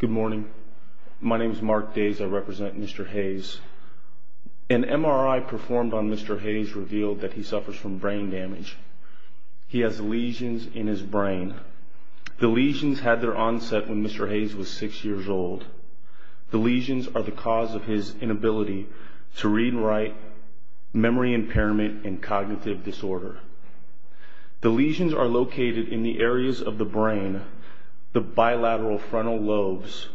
Good morning. My name is Mark Days. I represent Mr. Hayes. An MRI performed on Mr. Hayes revealed that he suffers from brain damage. He has lesions in his brain. The lesions had their onset when Mr. Hayes was six years old. The lesions are the cause of his inability to read and write, memory impairment, and cognitive disorder. The lesions are located in the areas of the brain, the bilateral frontal lobes,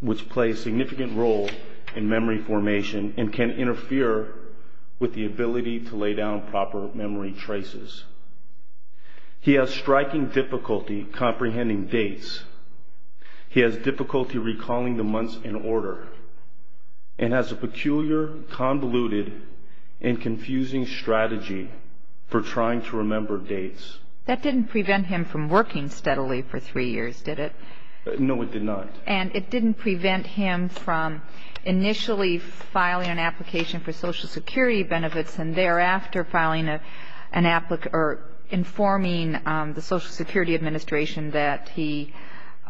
which play a significant role in memory formation and can interfere with the ability to lay down proper memory traces. He has striking difficulty comprehending dates. He has difficulty recalling the months in order and has a peculiar, convoluted, and confusing strategy for trying to remember dates. That didn't prevent him from working steadily for three years, did it? No, it did not. And it didn't prevent him from initially filing an application for Social Security benefits and thereafter informing the Social Security Administration that he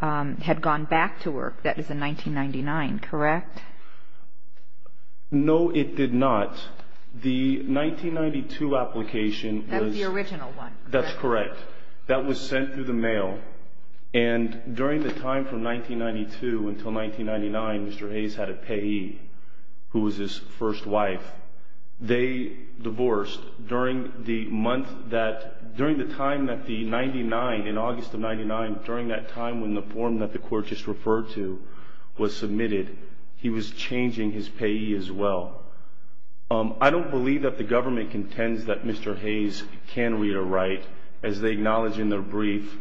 had gone back to work. That was in 1999, correct? No, it did not. The 1992 application was... That was the original one. That's correct. That was sent through the mail. And during the time from 1992 until 1999, Mr. Hayes had a payee who was his first wife. They divorced during the month that... during the time that the 99, in August of 99, during that time when the form that the court just referred to was submitted, he was changing his payee as well. I don't believe that the government contends that Mr. Hayes can read or write as they acknowledge in their brief...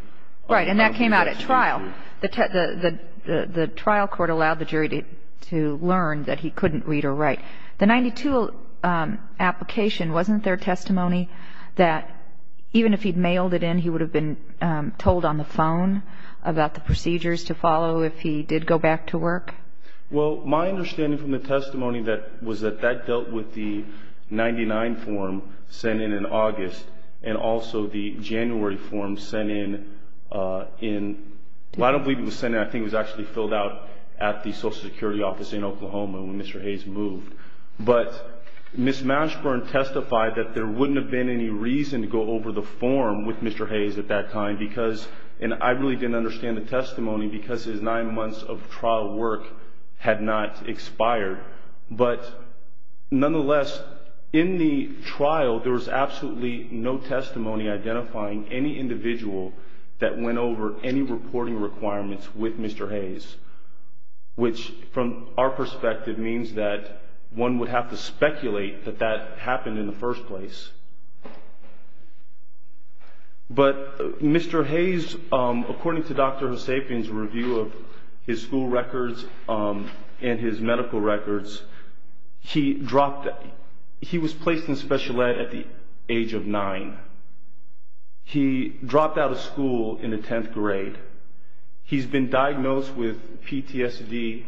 Right. And that came out at trial. The trial court allowed the jury to learn that he couldn't read or write. The 1992 application, wasn't there testimony that even if he'd mailed it in, he would have been told on the phone about the procedures to follow if he did go back to work? Well, my understanding from the testimony was that that dealt with the 99 form sent in in August and also the January form sent in in... I don't believe it was sent in. I think it was actually filled out at the Social Security office in Oklahoma when Mr. Hayes moved. But Ms. Mashburn testified that there wouldn't have been any reason to go over the form with Mr. Hayes of that kind because, and I really didn't understand the testimony, because his nine months of trial work had not expired. But nonetheless, in the trial, there was absolutely no testimony identifying any individual that went over any reporting requirements with Mr. Hayes, which from our perspective means that one would have to speculate that that happened in the first place. But Mr. Hayes, according to Dr. Hussabian's review of his school records and his medical records, he was placed in special ed at the age of nine. He dropped out of school in the 10th grade. He's been diagnosed with PTSD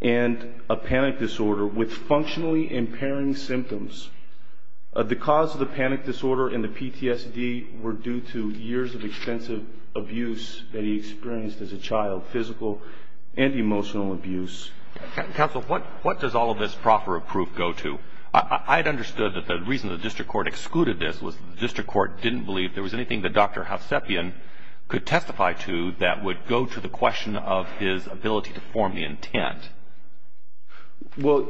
and a panic disorder with functionally impairing symptoms. The cause of the panic disorder and the PTSD were due to years of extensive abuse that he experienced as a child, physical and emotional abuse. Counsel, what does all of this proffer of proof go to? I had understood that the reason the district court excluded this was the district court didn't believe there was anything that Dr. Hussabian could testify to that would go to the question of his ability to form the intent. Well,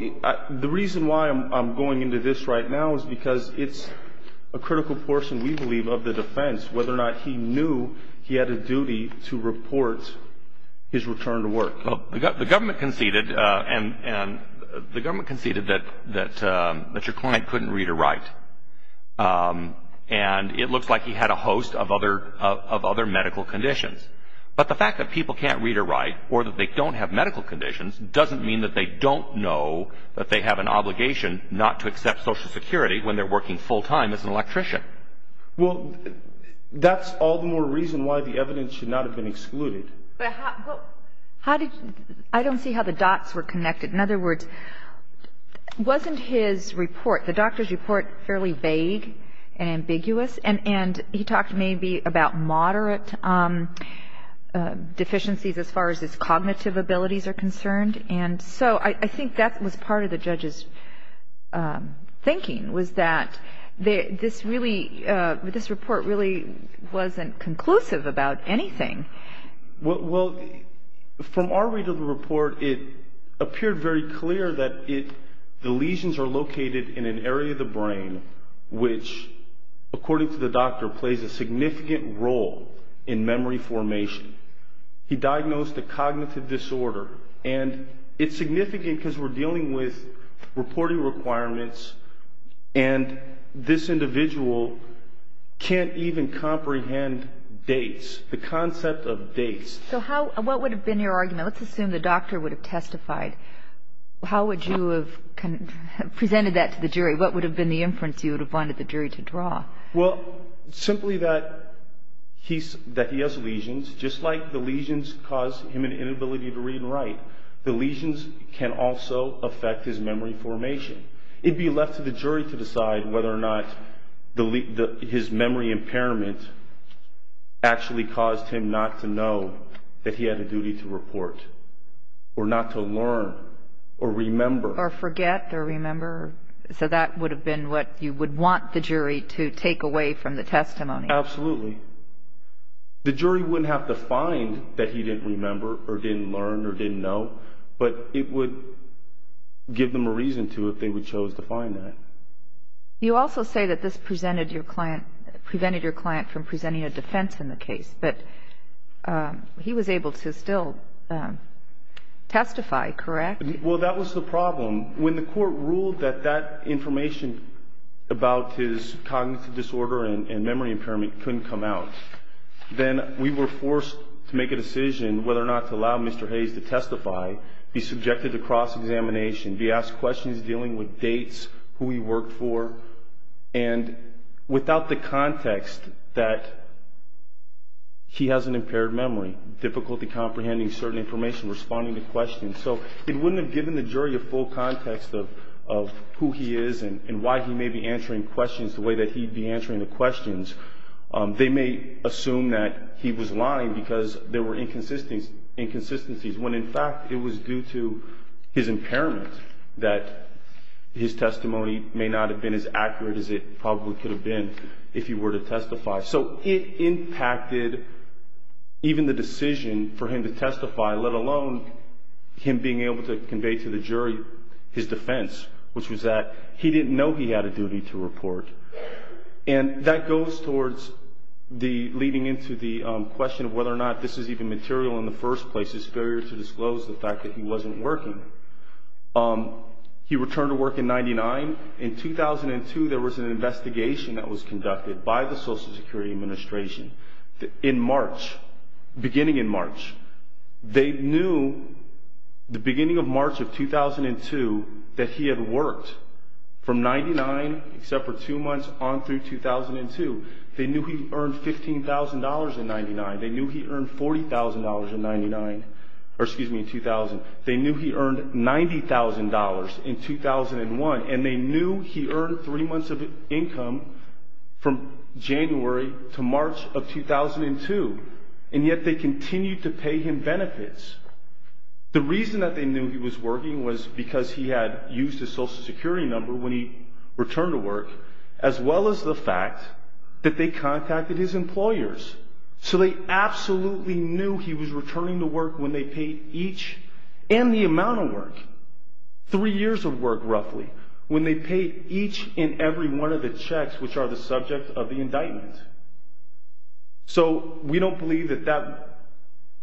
the reason why I'm going into this right now is because it's a critical portion, we believe, of the defense, whether or not he knew he had a duty to report his return to work. Well, the government conceded that your client couldn't read or write, and it looks like he had a host of other medical conditions. But the fact that people can't read or write or that they don't have medical conditions doesn't mean that they don't know that they have an obligation not to accept Social Security when they're working full-time as an electrician. Well, that's all the more reason why the evidence should not have been excluded. But how did you – I don't see how the dots were connected. In other words, wasn't his report, the doctor's report, fairly vague and ambiguous? And he talked maybe about moderate deficiencies as far as his cognitive abilities are concerned. And so I think that was part of the judge's thinking, was that this report really wasn't conclusive about anything. Well, from our read of the report, it appeared very clear that the lesions are located in an area of the brain, which, according to the doctor, plays a significant role in memory formation. He diagnosed a cognitive disorder, and it's significant because we're dealing with reporting requirements, and this individual can't even comprehend dates, the concept of dates. So what would have been your argument? Let's assume the doctor would have testified. How would you have presented that to the jury? What would have been the inference you would have wanted the jury to draw? Well, simply that he has lesions. Just like the lesions cause him an inability to read and write, the lesions can also affect his memory formation. It would be left to the jury to decide whether or not his memory impairment actually caused him not to know that he had a duty to report, or not to learn, or remember. So that would have been what you would want the jury to take away from the testimony? Absolutely. The jury wouldn't have to find that he didn't remember, or didn't learn, or didn't know, but it would give them a reason to if they chose to find that. You also say that this prevented your client from presenting a defense in the case, but he was able to still testify, correct? Well, that was the problem. When the court ruled that that information about his cognitive disorder and memory impairment couldn't come out, then we were forced to make a decision whether or not to allow Mr. Hayes to testify, be subjected to cross-examination, be asked questions dealing with dates, who he worked for, and without the context that he has an impaired memory, difficulty comprehending certain information, responding to questions. So it wouldn't have given the jury a full context of who he is and why he may be answering questions the way that he'd be answering the questions. They may assume that he was lying because there were inconsistencies, when in fact it was due to his impairment that his testimony may not have been as accurate as it probably could have been if he were to testify. So it impacted even the decision for him to testify, let alone him being able to convey to the jury his defense, which was that he didn't know he had a duty to report. And that goes towards leading into the question of whether or not this is even material in the first place, his failure to disclose the fact that he wasn't working. He returned to work in 1999. In 2002, there was an investigation that was conducted by the Social Security Administration in March, beginning in March. They knew the beginning of March of 2002 that he had worked from 99, except for two months, on through 2002. They knew he earned $15,000 in 99. They knew he earned $40,000 in 99, or excuse me, in 2000. They knew he earned $90,000 in 2001, and they knew he earned three months of income from January to March of 2002, and yet they continued to pay him benefits. The reason that they knew he was working was because he had used his Social Security number when he returned to work, as well as the fact that they contacted his employers. So they absolutely knew he was returning to work when they paid each, and the amount of work, three years of work roughly, when they paid each and every one of the checks which are the subject of the indictment. So we don't believe that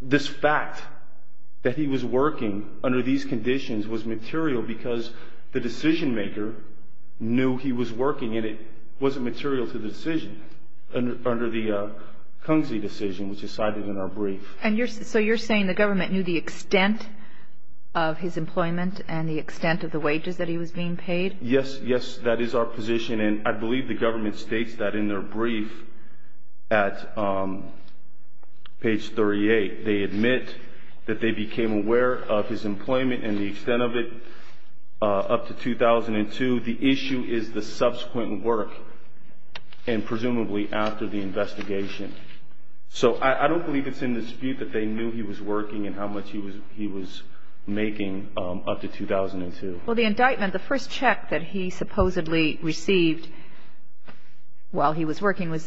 this fact that he was working under these conditions was material because the decision maker knew he was working, and it wasn't material to the decision under the Kunze decision, which is cited in our brief. And so you're saying the government knew the extent of his employment and the extent of the wages that he was being paid? Yes, yes, that is our position, and I believe the government states that in their brief at page 38. They admit that they became aware of his employment and the extent of it up to 2002. The issue is the subsequent work, and presumably after the investigation. So I don't believe it's in dispute that they knew he was working and how much he was making up to 2002. Well, the indictment, the first check that he supposedly received while he was working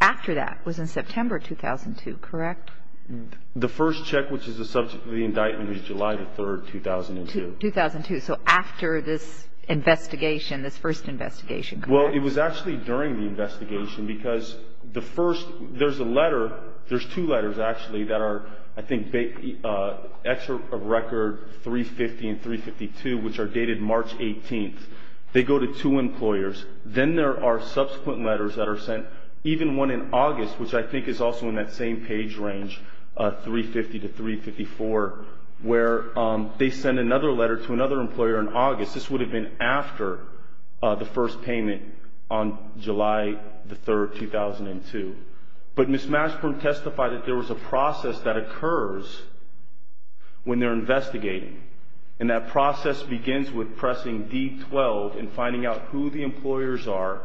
after that was in September 2002, correct? The first check which is the subject of the indictment is July the 3rd, 2002. 2002, so after this investigation, this first investigation, correct? Well, it was actually during the investigation because the first, there's a letter, there's two letters actually that are, excerpt of record 350 and 352, which are dated March 18th. They go to two employers. Then there are subsequent letters that are sent, even one in August, which I think is also in that same page range, 350 to 354, where they send another letter to another employer in August. This would have been after the first payment on July the 3rd, 2002. But Ms. Mashburn testified that there was a process that occurs when they're investigating, and that process begins with pressing D12 and finding out who the employers are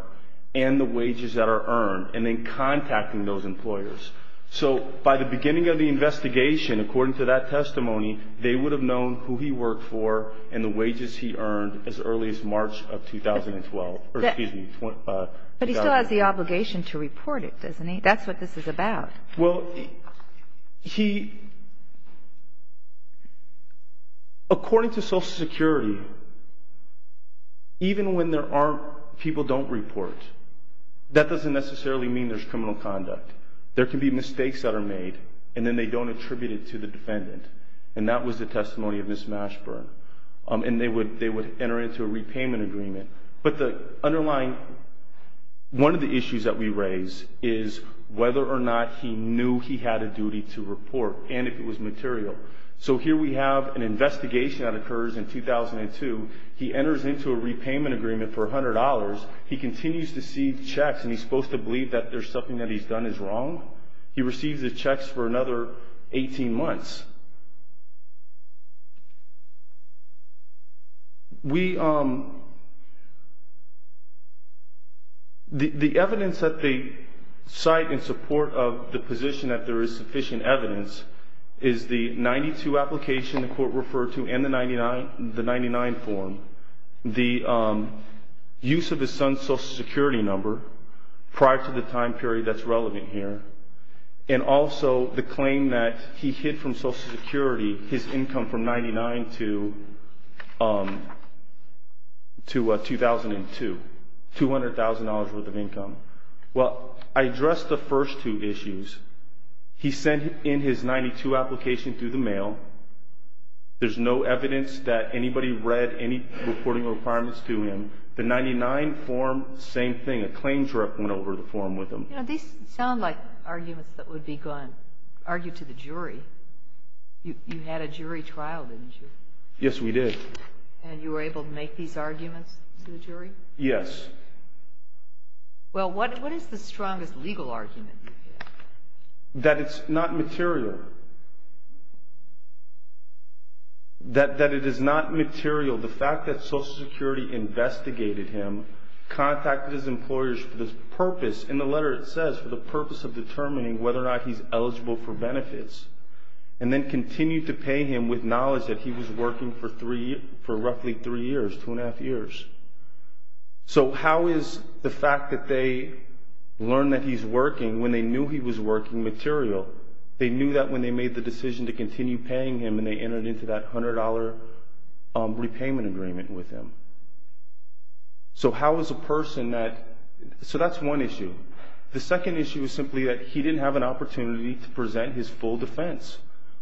and the wages that are earned, and then contacting those employers. So by the beginning of the investigation, according to that testimony, they would have known who he worked for and the wages he earned as early as March of 2012. But he still has the obligation to report it, doesn't he? That's what this is about. Well, he, according to Social Security, even when people don't report, that doesn't necessarily mean there's criminal conduct. There can be mistakes that are made, and then they don't attribute it to the defendant. And that was the testimony of Ms. Mashburn. And they would enter into a repayment agreement. But the underlying one of the issues that we raise is whether or not he knew he had a duty to report, and if it was material. So here we have an investigation that occurs in 2002. He enters into a repayment agreement for $100. He continues to see checks, and he's supposed to believe that there's something that he's done is wrong? He receives the checks for another 18 months. The evidence that they cite in support of the position that there is sufficient evidence is the 92 application the court referred to and the 99 form, the use of his son's Social Security number prior to the time period that's relevant here, and also the claim that he hid from Social Security his income from 99 to 2002, $200,000 worth of income. Well, I addressed the first two issues. He sent in his 92 application through the mail. There's no evidence that anybody read any reporting requirements to him. The 99 form, same thing. A claims rep went over the form with him. These sound like arguments that would be argued to the jury. You had a jury trial, didn't you? Yes, we did. And you were able to make these arguments to the jury? Yes. Well, what is the strongest legal argument? That it's not material. That it is not material, the fact that Social Security investigated him, contacted his employers for the purpose, in the letter it says, for the purpose of determining whether or not he's eligible for benefits, and then continued to pay him with knowledge that he was working for roughly three years, two and a half years. So how is the fact that they learned that he's working when they knew he was working material? They knew that when they made the decision to continue paying him and they entered into that $100 repayment agreement with him. So how is a person that ñ so that's one issue. The second issue is simply that he didn't have an opportunity to present his full defense,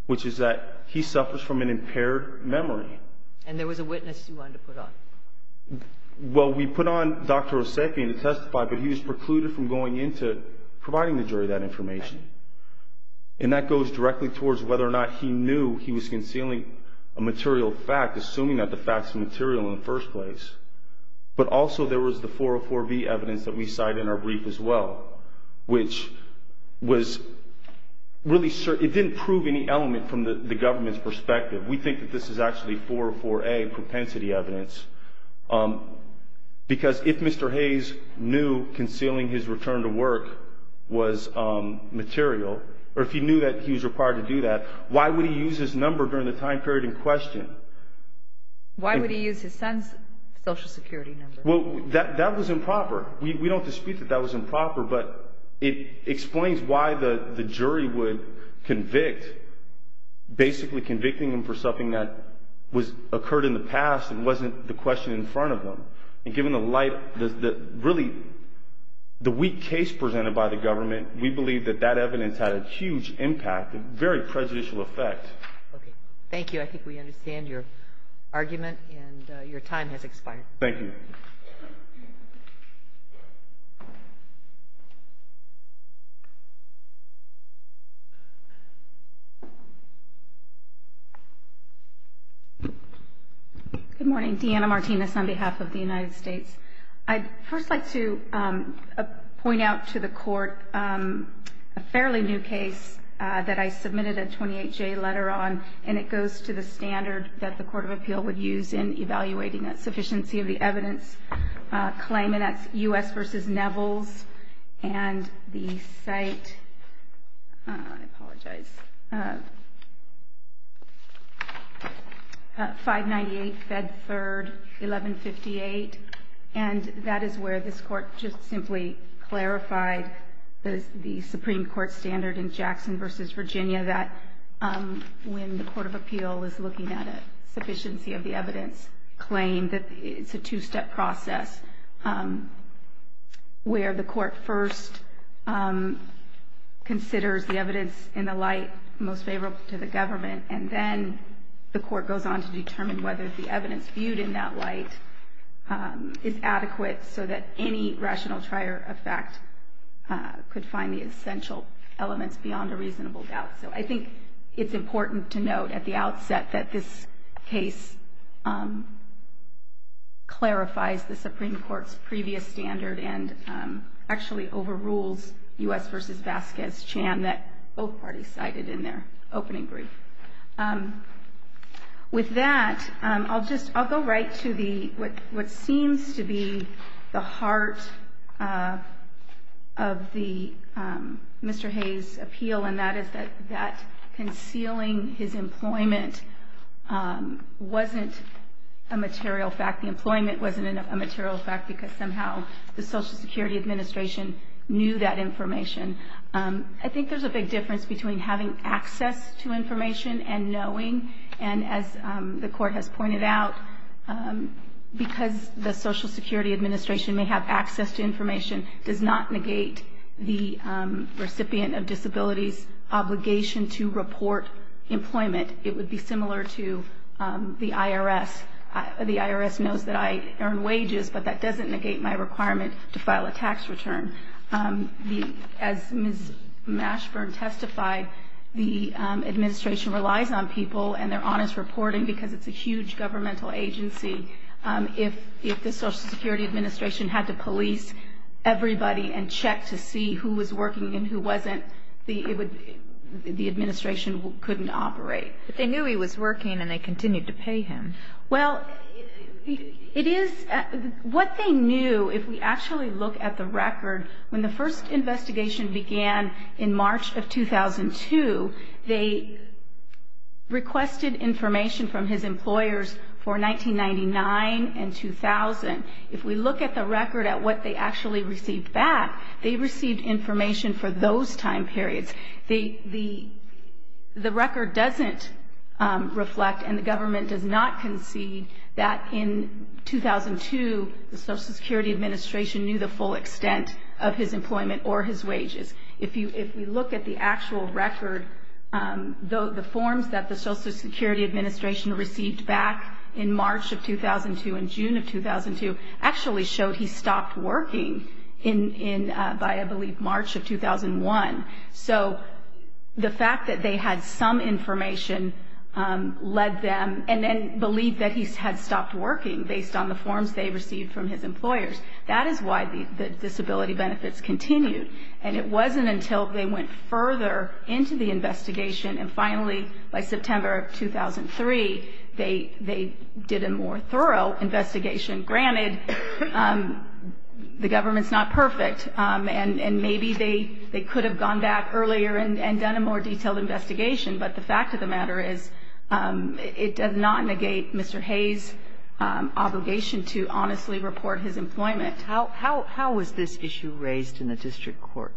which is that he suffers from an impaired memory. And there was a witness you wanted to put on. Well, we put on Dr. Osepian to testify, but he was precluded from going into providing the jury that information. And that goes directly towards whether or not he knew he was concealing a material fact, assuming that the fact's material in the first place. But also there was the 404B evidence that we cite in our brief as well, which was really ñ it didn't prove any element from the government's perspective. We think that this is actually 404A propensity evidence. Because if Mr. Hayes knew concealing his return to work was material, or if he knew that he was required to do that, why would he use his number during the time period in question? Why would he use his son's Social Security number? Well, that was improper. We don't dispute that that was improper, but it explains why the jury would convict, basically convicting him for something that occurred in the past and wasn't the question in front of them. And given the light ñ really, the weak case presented by the government, we believe that that evidence had a huge impact, a very prejudicial effect. Okay. Thank you. I think we understand your argument, and your time has expired. Thank you. Good morning. Deanna Martinez on behalf of the United States. I'd first like to point out to the Court a fairly new case that I submitted a 28-J letter on, and it goes to the standard that the Court of Appeal would use in evaluating a sufficiency of the evidence claim, and that's U.S. v. Nevels and the site ñ I apologize ñ 598 Fed Third, 1158. And that is where this Court just simply clarified the Supreme Court standard in Jackson v. Virginia that when the Court of Appeal is looking at a sufficiency of the evidence claim, that it's a two-step process where the Court first considers the evidence in the light most favorable to the government, and then the Court goes on to determine whether the evidence viewed in that light is adequate so that any rational trier of fact could find the essential elements beyond a reasonable doubt. So I think it's important to note at the outset that this case clarifies the Supreme Court's previous standard and actually overrules U.S. v. Vasquez-Chan that both parties cited in their opening brief. With that, I'll go right to what seems to be the heart of Mr. Hayes' appeal, and that is that concealing his employment wasn't a material fact. The employment wasn't a material fact because somehow the Social Security Administration knew that information. I think there's a big difference between having access to information and knowing, and as the Court has pointed out, because the Social Security Administration may have access to information, does not negate the recipient of disability's obligation to report employment. It would be similar to the IRS. The IRS knows that I earn wages, but that doesn't negate my requirement to file a tax return. As Ms. Mashburn testified, the Administration relies on people and their honest reporting because it's a huge governmental agency. If the Social Security Administration had to police everybody and check to see who was working and who wasn't, the Administration couldn't operate. But they knew he was working, and they continued to pay him. Well, what they knew, if we actually look at the record, when the first investigation began in March of 2002, they requested information from his employers for 1999 and 2000. If we look at the record at what they actually received back, they received information for those time periods. The record doesn't reflect and the government does not concede that in 2002, the Social Security Administration knew the full extent of his employment or his wages. If we look at the actual record, the forms that the Social Security Administration received back in March of 2002 and June of 2002 actually showed he stopped working by, I believe, March of 2001. So the fact that they had some information led them and then believed that he had stopped working, based on the forms they received from his employers. That is why the disability benefits continued. And it wasn't until they went further into the investigation and finally, by September of 2003, they did a more thorough investigation. Granted, the government's not perfect. And maybe they could have gone back earlier and done a more detailed investigation. But the fact of the matter is it does not negate Mr. Hayes' obligation to honestly report his employment. How was this issue raised in the district court?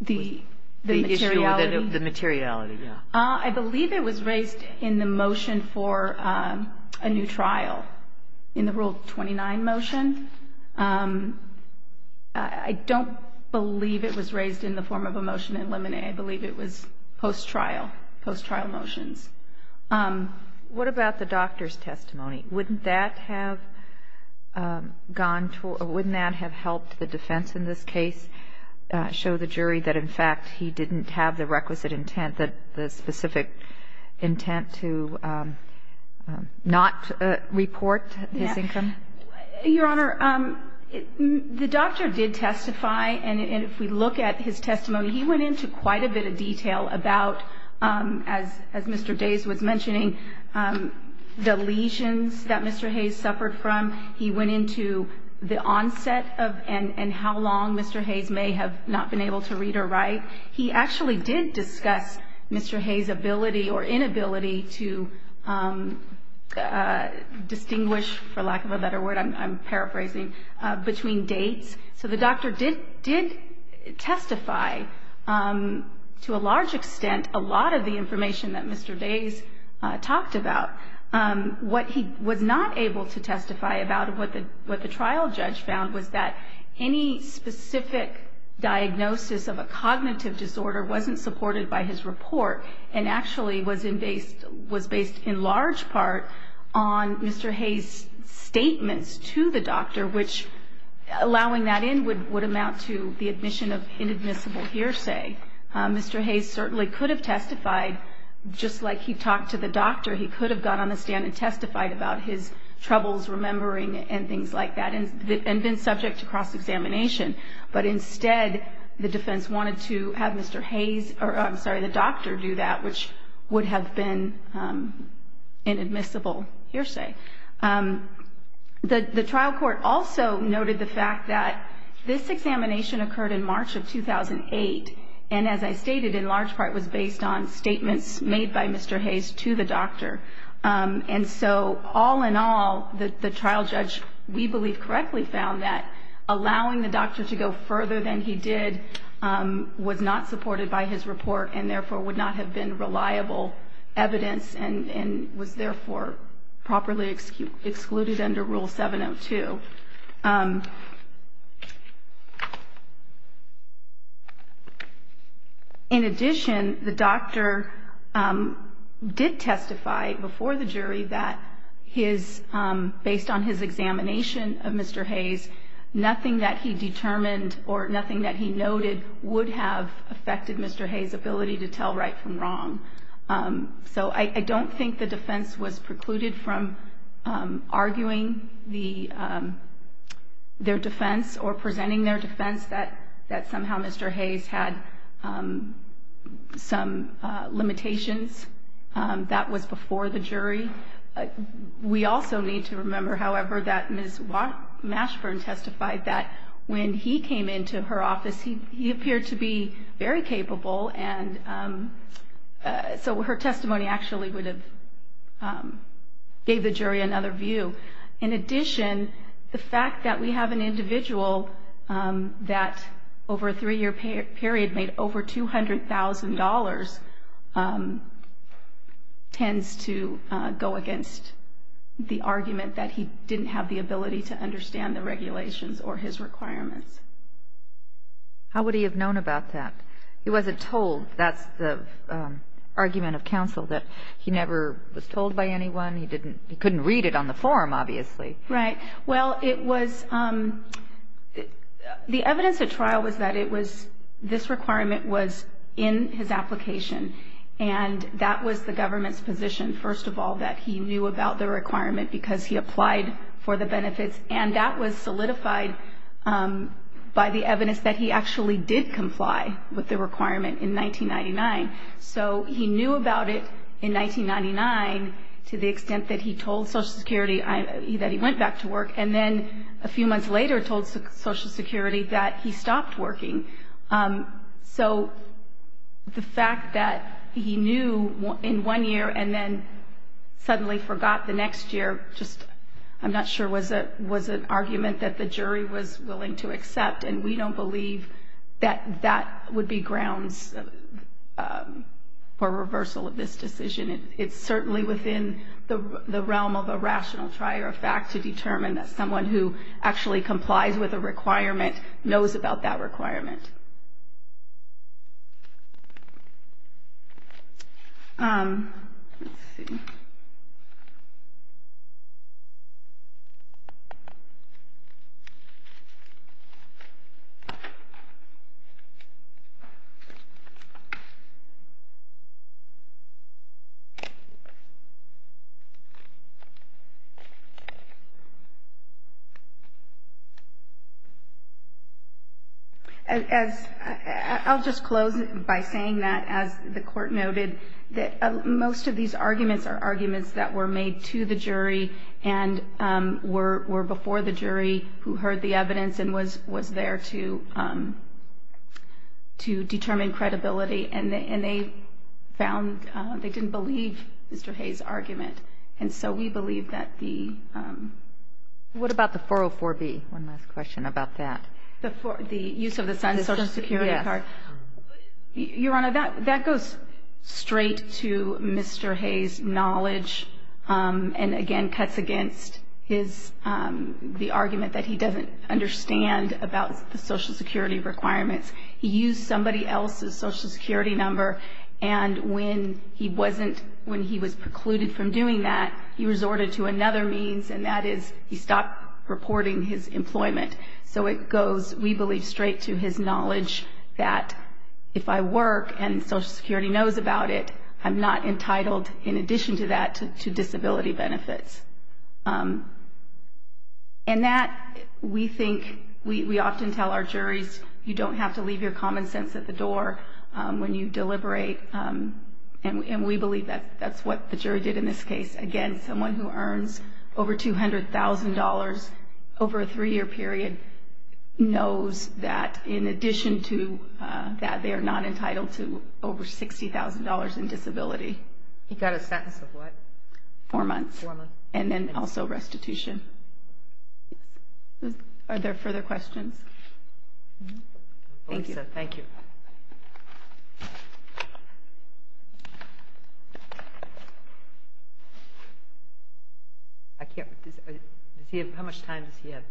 The materiality? The materiality, yeah. I believe it was raised in the motion for a new trial, in the Rule 29 motion. I don't believe it was raised in the form of a motion to eliminate. I believe it was post-trial, post-trial motions. What about the doctor's testimony? Wouldn't that have gone to or wouldn't that have helped the defense in this case show the jury that, in fact, he didn't have the requisite intent, the specific intent to not report his income? Your Honor, the doctor did testify. And if we look at his testimony, he went into quite a bit of detail about, as Mr. Days was mentioning, the lesions that Mr. Hayes suffered from. He went into the onset of and how long Mr. Hayes may have not been able to read or write. He actually did discuss Mr. Hayes' ability or inability to distinguish, for lack of a better word, I'm paraphrasing, between dates. So the doctor did testify, to a large extent, a lot of the information that Mr. Days talked about. What he was not able to testify about, what the trial judge found, was that any specific diagnosis of a cognitive disorder wasn't supported by his report and actually was based in large part on Mr. Hayes' statements to the doctor, which allowing that in would amount to the admission of inadmissible hearsay. Mr. Hayes certainly could have testified, just like he talked to the doctor. He could have got on the stand and testified about his troubles remembering and things like that and been subject to cross-examination. But instead, the defense wanted to have Mr. Hayes, I'm sorry, the doctor do that, which would have been inadmissible hearsay. The trial court also noted the fact that this examination occurred in March of 2008, and as I stated, in large part was based on statements made by Mr. Hayes to the doctor. And so all in all, the trial judge, we believe, correctly found that allowing the doctor to go further than he did was not supported by his report and therefore would not have been reliable evidence and was therefore properly excluded under Rule 702. In addition, the doctor did testify before the jury that based on his examination of Mr. Hayes, nothing that he determined or nothing that he noted would have affected Mr. Hayes' ability to tell right from wrong. So I don't think the defense was precluded from arguing their defense or presenting their defense that somehow Mr. Hayes had some limitations. That was before the jury. We also need to remember, however, that Ms. Mashburn testified that when he came into her office, he appeared to be very capable, and so her testimony actually would have gave the jury another view. In addition, the fact that we have an individual that over a three-year period made over $200,000 tends to go against the argument that he didn't have the ability to understand the regulations or his requirements. How would he have known about that? He wasn't told. That's the argument of counsel, that he never was told by anyone. He couldn't read it on the form, obviously. Right. Well, the evidence at trial was that this requirement was in his application, and that was the government's position, first of all, that he knew about the requirement because he applied for the benefits, and that was solidified by the evidence that he actually did comply with the requirement in 1999. So he knew about it in 1999 to the extent that he told Social Security that he went back to work, and then a few months later told Social Security that he stopped working. So the fact that he knew in one year and then suddenly forgot the next year, just I'm not sure was an argument that the jury was willing to accept, and we don't believe that that would be grounds for reversal of this decision. It's certainly within the realm of a rational try or a fact to determine that someone who actually complies with a requirement knows about that requirement. Let's see. I'll just close by saying that, as the Court noted, that most of these arguments are arguments that were made to the jury and were before the jury who heard the evidence and was there to determine credibility, and they found they didn't believe Mr. Hay's argument. And so we believe that the— What about the 404B? One last question about that. The use of the Social Security card? Yes. Your Honor, that goes straight to Mr. Hay's knowledge and, again, cuts against the argument that he doesn't understand about the Social Security requirements. He used somebody else's Social Security number, and when he was precluded from doing that, he resorted to another means, and that is he stopped reporting his employment. So it goes, we believe, straight to his knowledge that, if I work and Social Security knows about it, I'm not entitled, in addition to that, to disability benefits. And that, we think—we often tell our juries, you don't have to leave your common sense at the door when you deliberate, and we believe that's what the jury did in this case. Again, someone who earns over $200,000 over a three-year period knows that, in addition to that, they are not entitled to over $60,000 in disability. He got a sentence of what? Four months. Four months. And then also restitution. Are there further questions? Thank you. Thank you. I can't—does he have—how much time does he have?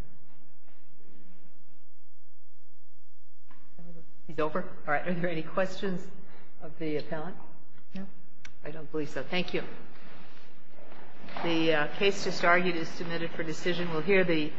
He's over? All right. Are there any questions of the appellant? No? I don't believe so. Thank you. The case just argued is submitted for decision. We'll hear the—